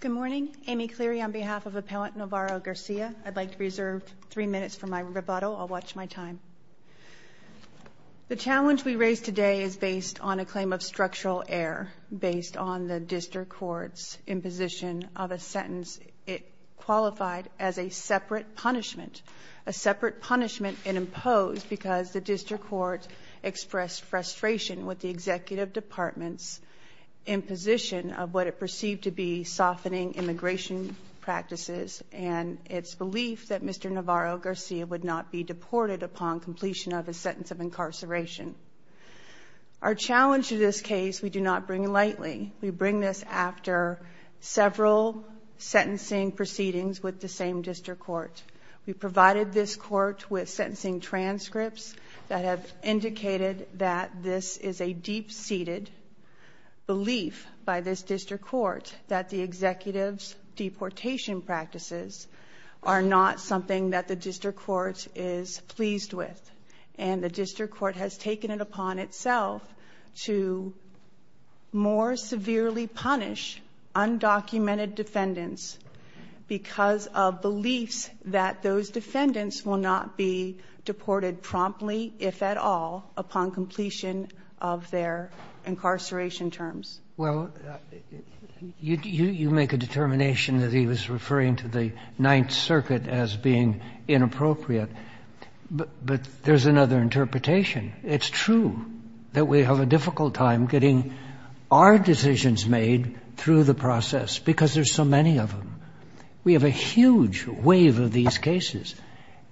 Good morning. Amy Cleary on behalf of Appellant Navarro-Garcia. I'd like to reserve three minutes for my rebuttal. I'll watch my time. The challenge we raise today is based on a claim of structural error based on the District Court's imposition of a sentence. It qualified as a separate punishment, a separate punishment and imposed because the District Court expressed frustration with the Executive Department's imposition of what it perceived to be softening immigration practices and its belief that Mr. Navarro-Garcia would not be deported upon completion of a sentence of incarceration. Our challenge to this case we do not bring lightly. We bring this after several sentencing proceedings with the same District Court. We provided this Court with sentencing transcripts that have indicated that this is a deep-seated belief by this District Court that the Executive's deportation practices are not something that the District Court is pleased with. And the District Court has taken it upon itself to more severely punish undocumented defendants because of beliefs that those defendants will not be deported promptly, if at all, upon completion of their incarceration terms. Well, you make a determination that he was referring to the Ninth Circuit as being inappropriate. But there's another interpretation. It's true that we have a difficult time getting our decisions made through the process because there's so many of them. We have a huge wave of these cases.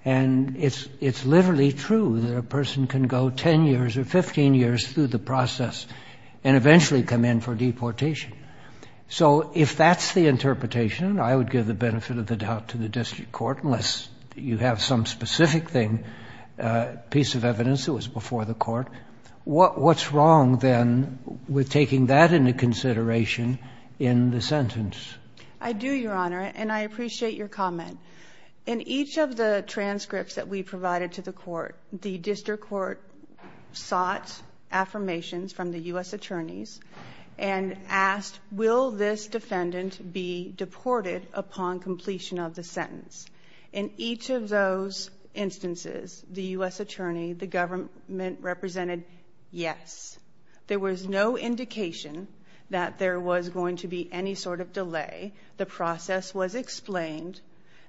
And it's literally true that a person can go 10 years or 15 years through the process and eventually come in for deportation. So if that's the interpretation, I would give the benefit of the doubt to the Court. What's wrong, then, with taking that into consideration in the sentence? I do, Your Honor, and I appreciate your comment. In each of the transcripts that we provided to the Court, the District Court sought affirmations from the U.S. attorneys and asked, Will this defendant be deported upon completion of the sentence? In each of those instances, the U.S. attorney, the government, represented yes. There was no indication that there was going to be any sort of delay. The process was explained.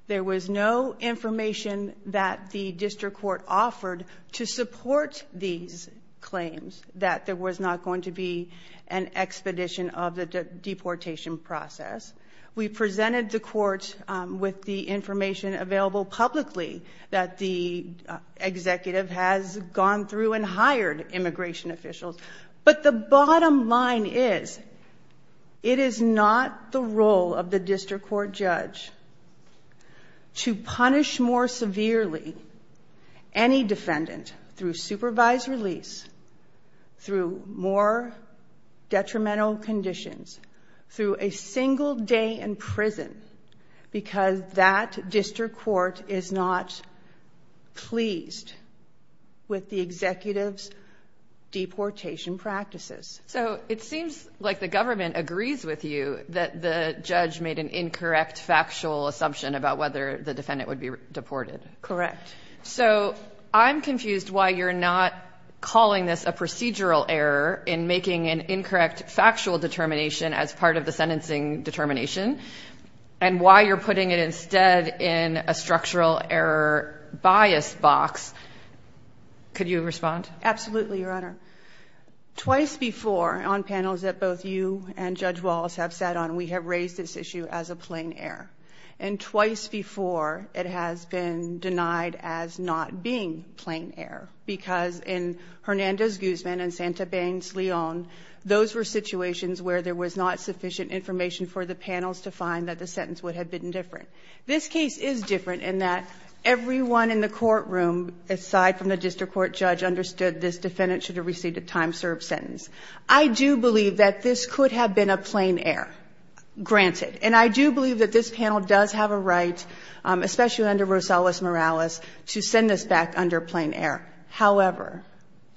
There was no information that the District Court offered to support these claims, that there was not going to be an expedition of the deportation process. We presented the Court with the information available publicly that the executive has gone through and hired immigration officials. But the bottom line is, it is not the role of the District Court judge to punish more severely any defendant through supervised release, through more detrimental conditions, through a single day in prison, because that District Court is not pleased with the executive's deportation practices. So it seems like the government agrees with you that the judge made an incorrect factual assumption about whether the defendant would be deported. Correct. So I'm confused why you're not calling this a procedural error in making an incorrect factual determination as part of the sentencing determination, and why you're putting it instead in a structural error bias box. Could you respond? Absolutely, Your Honor. Twice before, on panels that both you and Judge Wallace have sat on, we have raised this issue as a plain error. And twice before, it has been denied as not being plain error, because in Hernandez-Guzman and Santa Bangs-Leon, those were situations where there was not sufficient information for the panels to find that the sentence would have been different. This case is different in that everyone in the courtroom, aside from the District Court judge, understood this defendant should have received a time-served sentence. I do believe that this could have been a plain error, granted. And I do believe that this However,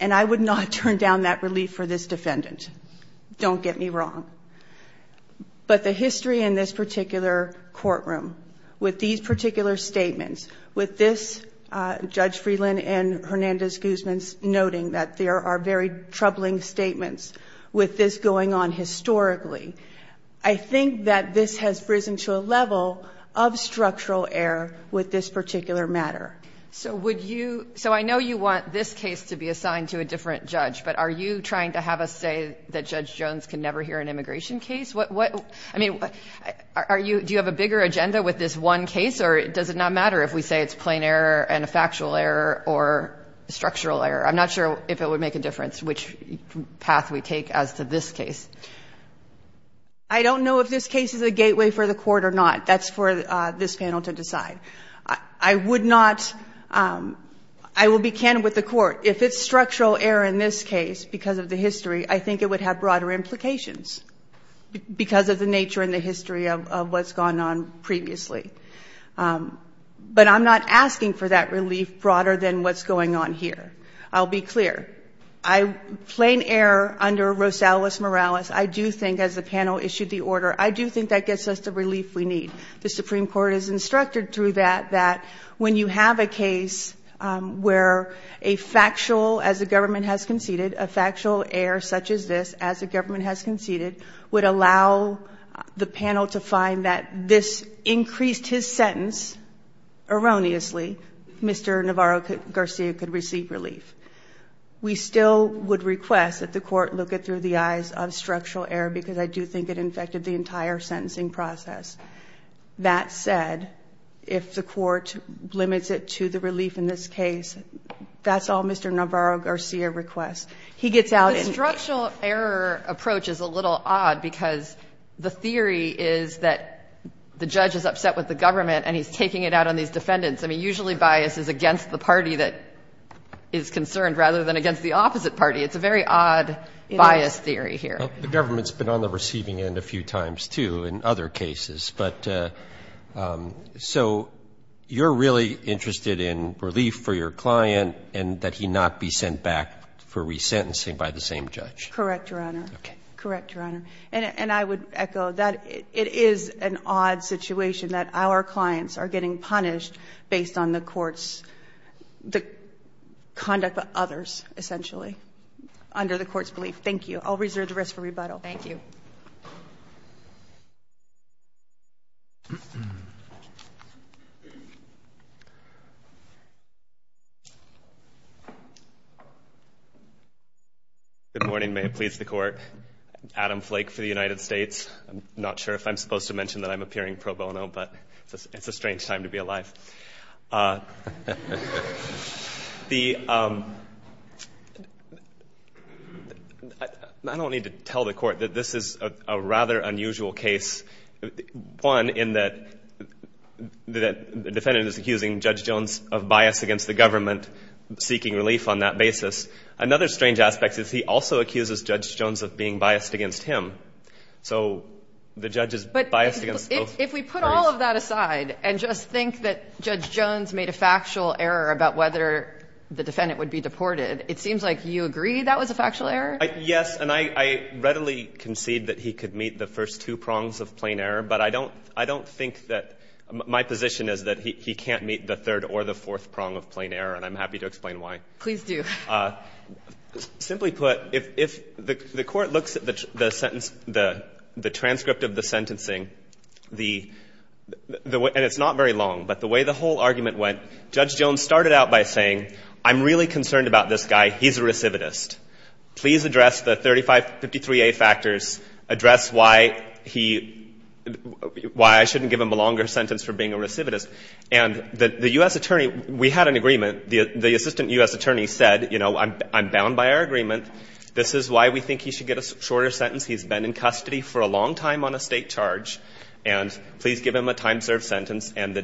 and I would not turn down that relief for this defendant. Don't get me wrong. But the history in this particular courtroom, with these particular statements, with this, Judge Freeland and Hernandez-Guzman noting that there are very troubling statements, with this going on historically, I think that this has risen to a level of structural error with this particular matter. So would you – so I know you want this case to be assigned to a different judge, but are you trying to have us say that Judge Jones can never hear an immigration case? What – I mean, are you – do you have a bigger agenda with this one case, or does it not matter if we say it's plain error and a factual error or a structural error? I'm not sure if it would make a difference which path we take as to this case. I don't know if this case is a gateway for the Court or not. That's for this panel to decide. I would not – I will be candid with the Court. If it's structural error in this case because of the history, I think it would have broader implications because of the nature and the history of what's gone on previously. But I'm not asking for that relief broader than what's going on here. I'll be clear. Plain error under Rosales-Morales, I do think, as the panel issued the order, I do think that gets us the relief we need. The Supreme Court is instructed through that that when you have a case where a factual – as the government has conceded – a factual error such as this, as the government has conceded, would allow the panel to find that this increased his sentence erroneously, Mr. Navarro-Garcia could receive relief. We still would request that the Court look it through the eyes of structural error because I do think it infected the entire sentencing process. That said, if the Court limits it to the relief in this case, that's all Mr. Navarro-Garcia requests. He gets out and – The structural error approach is a little odd because the theory is that the judge is upset with the government and he's taking it out on these defendants. I mean, usually bias is against the party that is concerned rather than against the opposite party. It's a very odd bias theory here. The government's been on the receiving end a few times, too, in other cases. But – so you're really interested in relief for your client and that he not be sent back for resentencing by the same judge? Correct, Your Honor. Okay. Correct, Your Honor. And I would echo that. It is an odd situation that our clients are getting punished based on the court's – the conduct of others, essentially, under the court's belief. Thank you. I'll reserve the rest for rebuttal. Thank you. Good morning. May it please the Court. Adam Flake for the United States. I'm not sure if I'm supposed to mention that I'm appearing pro bono, but it's a strange time to be here. I don't need to tell the Court that this is a rather unusual case. One, in that the defendant is accusing Judge Jones of bias against the government, seeking relief on that basis. Another strange aspect is he also accuses Judge Jones of being biased against him. So the judge is biased against both parties. So put that aside and just think that Judge Jones made a factual error about whether the defendant would be deported. It seems like you agree that was a factual error? Yes. And I readily concede that he could meet the first two prongs of plain error, but I don't think that – my position is that he can't meet the third or the fourth prong of plain error, and I'm happy to explain why. Please do. Simply put, if the Court looks at the sentence, the transcript of the sentencing, the – and it's not very long, but the way the whole argument went, Judge Jones started out by saying, I'm really concerned about this guy. He's a recidivist. Please address the 3553a factors. Address why he – why I shouldn't give him a longer sentence for being a recidivist. And the U.S. attorney – we had an agreement. The assistant U.S. attorney said, you know, I'm bound by our agreement. This is why we think he should get a shorter sentence. He's been in custody for a long time on a state charge, and please give him a time-served sentence. And the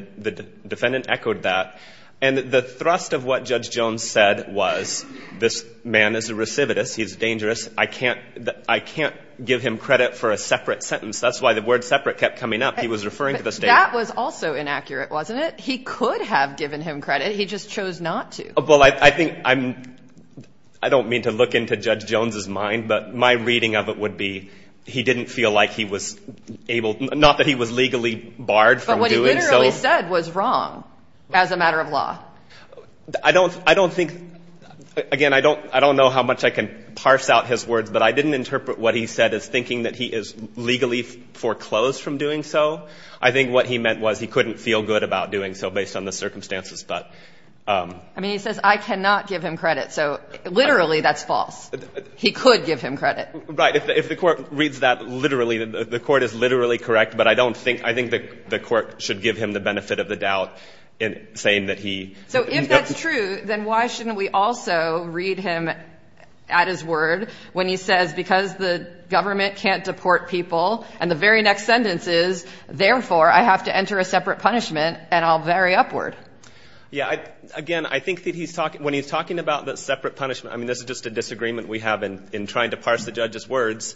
defendant echoed that. And the thrust of what Judge Jones said was, this man is a recidivist. He's dangerous. I can't – I can't give him credit for a separate sentence. That's why the word separate kept coming up. He was referring to the state. That was also inaccurate, wasn't it? He could have given him credit. He just chose not to. Well, I think I'm – I don't mean to look into Judge Jones's mind, but my reading of it would be he didn't feel like he was able – not that he was legally barred from doing so. But what he literally said was wrong as a matter of law. I don't – I don't think – again, I don't – I don't know how much I can parse out his words, but I didn't interpret what he said as thinking that he is legally foreclosed from doing so. I think what he meant was he couldn't feel good about doing so based on the circumstances. But – I mean, he says, I cannot give him credit. So literally, that's false. He could give him credit. Right. If the Court reads that literally, the Court is literally correct, but I don't think – I think the Court should give him the benefit of the doubt in saying that he – So if that's true, then why shouldn't we also read him at his word when he says because the government can't deport people and the very next sentence is, therefore, I have to enter a separate punishment and I'll vary upward. Yeah. Again, I think that he's – when he's talking about the separate punishment, I mean, this is just a disagreement we have in trying to parse the judge's words.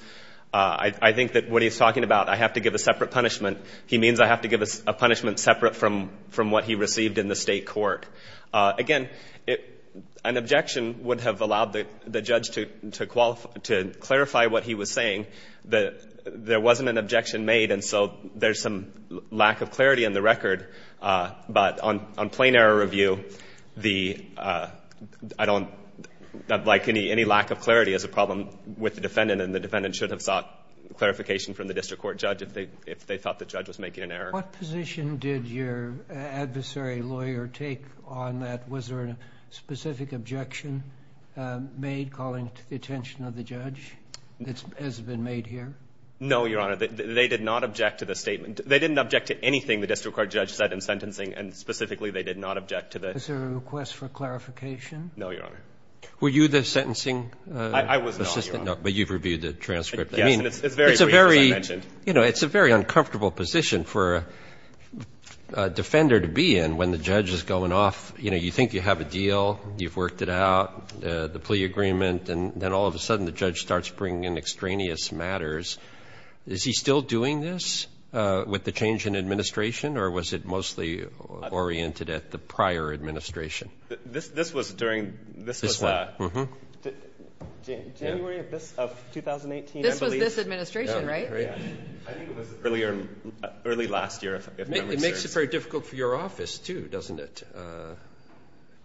I think that what he's talking about, I have to give a separate punishment, he means I have to give a punishment separate from what he received in the state court. Again, an objection would have allowed the judge to clarify what he was saying. There wasn't an objection made, and so there's some lack of clarity in the record. But on plain error review, the – I don't – like, any lack of clarity is a problem with the defendant, and the defendant should have sought clarification from the district court judge if they thought the judge was making an error. What position did your adversary lawyer take on that? Was there a specific objection made calling to the attention of the judge? Has it been made here? No, Your Honor. They did not object to the statement. They didn't object to anything the district court judge said in sentencing, and specifically they did not object to the – Is there a request for clarification? No, Your Honor. Were you the sentencing assistant? I was not, Your Honor. No, but you've reviewed the transcript. Yes, and it's very brief, as I mentioned. It's a very – you know, it's a very uncomfortable position for a defender to be in when the judge is going off. You know, you think you have a deal, you've worked it out, the plea agreement, and then all of a sudden the judge starts bringing in extraneous matters. Is he still doing this with the change in administration, or was it mostly oriented at the prior administration? This was during – this was January of 2018, I believe. This was this administration, right? I think it was earlier – early last year, if memory serves. It makes it very difficult for your office, too, doesn't it?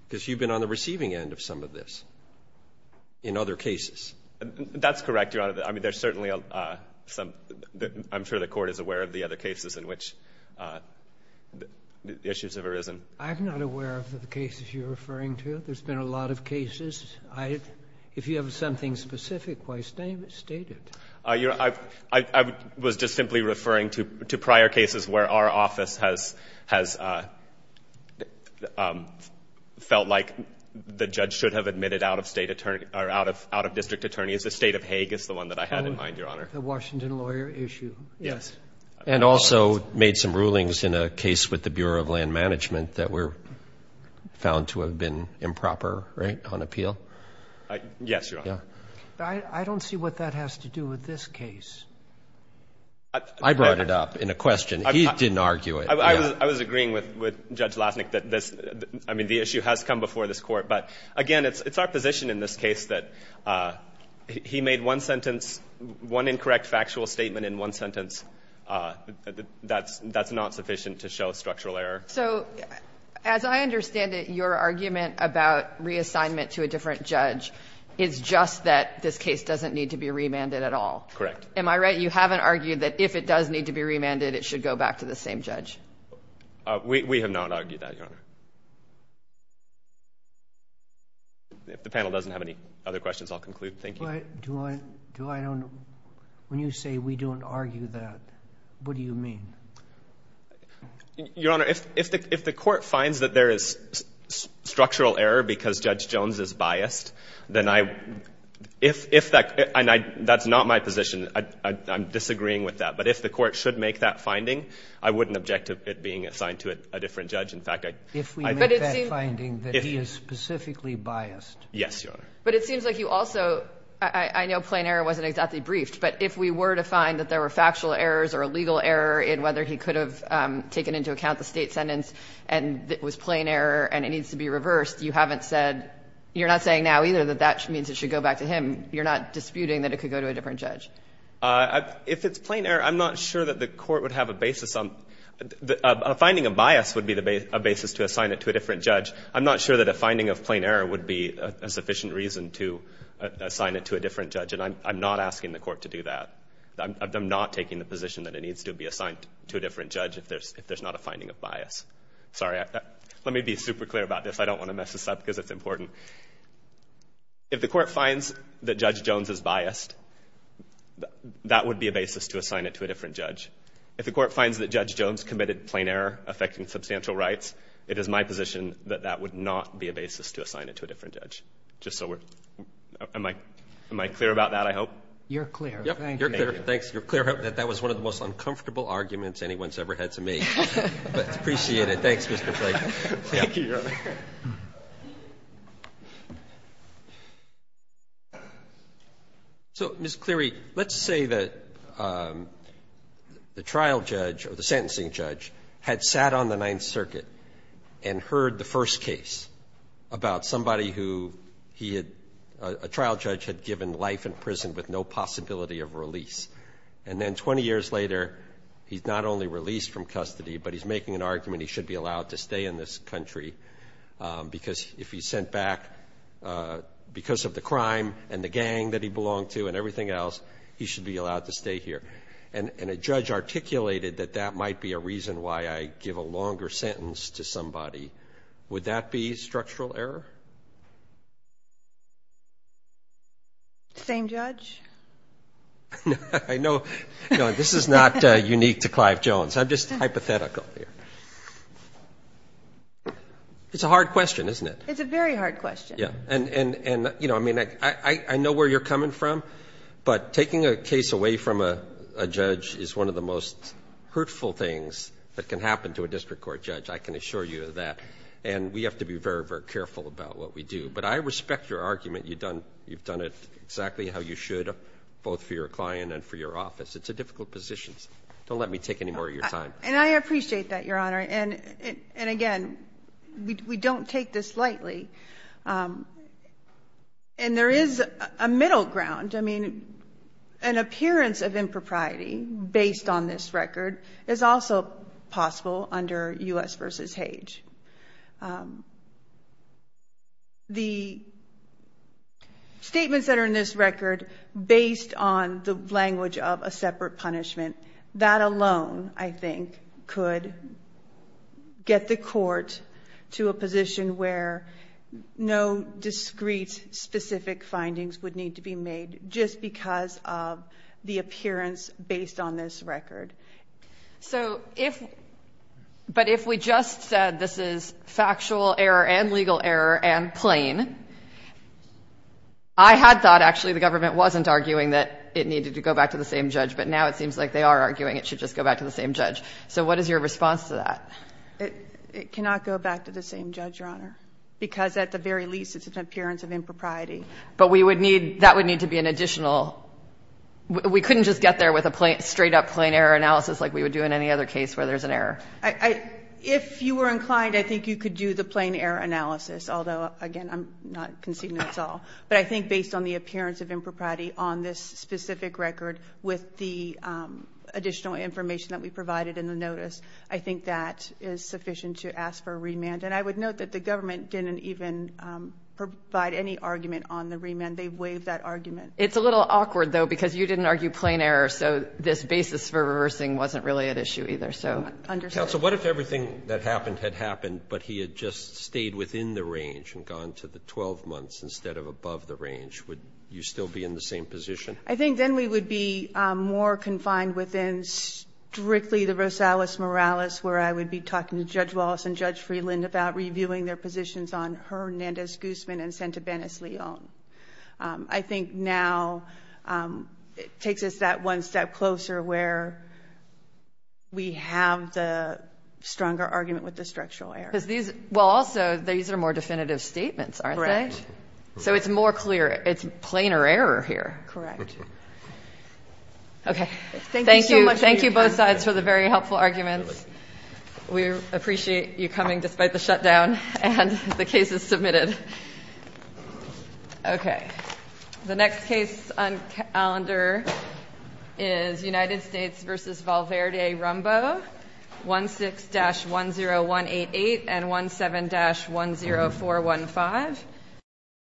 Because you've been on the receiving end of some of this in other cases. That's correct, Your Honor. I mean, there's certainly some – I'm sure the Court is aware of the other cases in which issues have arisen. I'm not aware of the cases you're referring to. There's been a lot of cases. If you have something specific, why state it. I was just simply referring to prior cases where our office has felt like the judge should have admitted out-of-district attorneys. The state of Hague is the one that I had in mind, Your Honor. The Washington lawyer issue. Yes. And also made some rulings in a case with the Bureau of Land Management that were found to have been improper, right, on appeal? Yes, Your Honor. I don't see what that has to do with this case. I brought it up in a question. He didn't argue it. I was agreeing with Judge Lasnik that this – I mean, the issue has come before this Court. But, again, it's our position in this case that he made one sentence – one incorrect factual statement in one sentence. That's not sufficient to show structural error. So as I understand it, your argument about reassignment to a different judge is just that this case doesn't need to be remanded at all. Correct. Am I right? You haven't argued that if it does need to be remanded, it should go back to the same judge. We have not argued that, Your Honor. If the panel doesn't have any other questions, I'll conclude. Thank you. But do I – do I – when you say we don't argue that, what do you mean? Your Honor, if the Court finds that there is structural error because Judge Jones is biased, then I – if that – and I – that's not my position. I'm disagreeing with that. But if the Court should make that finding, I wouldn't object to it being assigned to a different judge. In fact, I – If we make that finding that he is specifically biased. Yes, Your Honor. But it seems like you also – I know plain error wasn't exactly briefed, but if we were to find that there were factual errors or a legal error in whether he could have taken into account the State sentence and it was plain error and it needs to be reversed, you haven't said – you're not saying now either that that means it should go back to him. You're not disputing that it could go to a different judge. If it's plain error, I'm not sure that the Court would have a basis on – a finding of bias would be a basis to assign it to a different judge. I'm not sure that a finding of plain error would be a sufficient reason to assign it to a different judge, and I'm not asking the Court to do that. I'm not taking the position that it needs to be assigned to a different judge if there's not a finding of bias. Sorry. Let me be super clear about this. I don't want to mess this up because it's important. If the Court finds that Judge Jones is biased, that would be a basis to assign it to a different judge. If the Court finds that Judge Jones committed plain error affecting substantial rights, it is my position that that would not be a basis to assign it to a different judge. Just so we're – am I clear about that, I hope? You're clear. Thank you. Thanks. You're clear that that was one of the most uncomfortable arguments anyone's ever had to make. But I appreciate it. Thanks, Mr. Clayton. Thank you, Your Honor. So, Ms. Cleary, let's say that the trial judge or the sentencing judge had sat on the Ninth Circuit and heard the first case about somebody who he had – a trial judge had given life in prison with no possibility of release. And then 20 years later, he's not only released from custody, but he's making an argument he should be allowed to stay in this country because if he's sent back because of the crime and the gang that he belonged to and everything else, he should be allowed to stay here. And a judge articulated that that might be a reason why I give a longer sentence to somebody. Would that be structural error? Same judge? I know – no, this is not unique to Clive Jones. I'm just hypothetical here. It's a hard question, isn't it? It's a very hard question. Yeah. And, you know, I mean, I know where you're coming from, but taking a case away from a judge is one of the most hurtful things that can happen to a district court judge, I can assure you of that. And we have to be very, very careful about that. We have to be very, very careful about what we do. But I respect your argument. You've done it exactly how you should, both for your client and for your office. It's a difficult position. Don't let me take any more of your time. And I appreciate that, Your Honor. And, again, we don't take this lightly. And there is a middle ground. I mean, an appearance of impropriety based on this record is also possible under U.S. v. Hage. The statements that are in this record based on the language of a separate punishment, that alone, I think, could get the court to a position where no discreet, specific findings would need to be made just because of the appearance based on this record. But if we just said this is factual error and legal error and plain, I had thought actually the government wasn't arguing that it needed to go back to the same judge. But now it seems like they are arguing it should just go back to the same judge. So what is your response to that? It cannot go back to the same judge, Your Honor, because at the very least it's an appearance of impropriety. But that would need to be an additional – we couldn't just get there with a straight up plain error analysis like we would do in any other case where there's an error. If you were inclined, I think you could do the plain error analysis, although, again, I'm not conceding that's all. But I think based on the appearance of impropriety on this specific record with the additional information that we provided in the notice, I think that is sufficient to ask for a remand. And I would note that the government didn't even provide any argument on the remand. They waived that argument. It's a little awkward, though, because you didn't argue plain error, so this basis for reversing wasn't really at issue either, so. Counsel, what if everything that happened had happened, but he had just stayed within the range and gone to the 12 months instead of above the range? Would you still be in the same position? I think then we would be more confined within strictly the Rosales-Morales, where I would be talking to Judge Wallace and Judge Freeland about reviewing their positions on Hernandez-Guzman and Santabenez-Leon. I think now it takes us that one step closer where we have the stronger argument with the structural error. Well, also, these are more definitive statements, aren't they? Correct. So it's more clear. It's plainer error here. Correct. Okay. Thank you so much. Thank you both sides for the very helpful arguments. We appreciate you coming despite the shutdown and the cases submitted. Okay. The next case on calendar is United States v. Valverde-Rumbo, 16-10188 and 17-10415.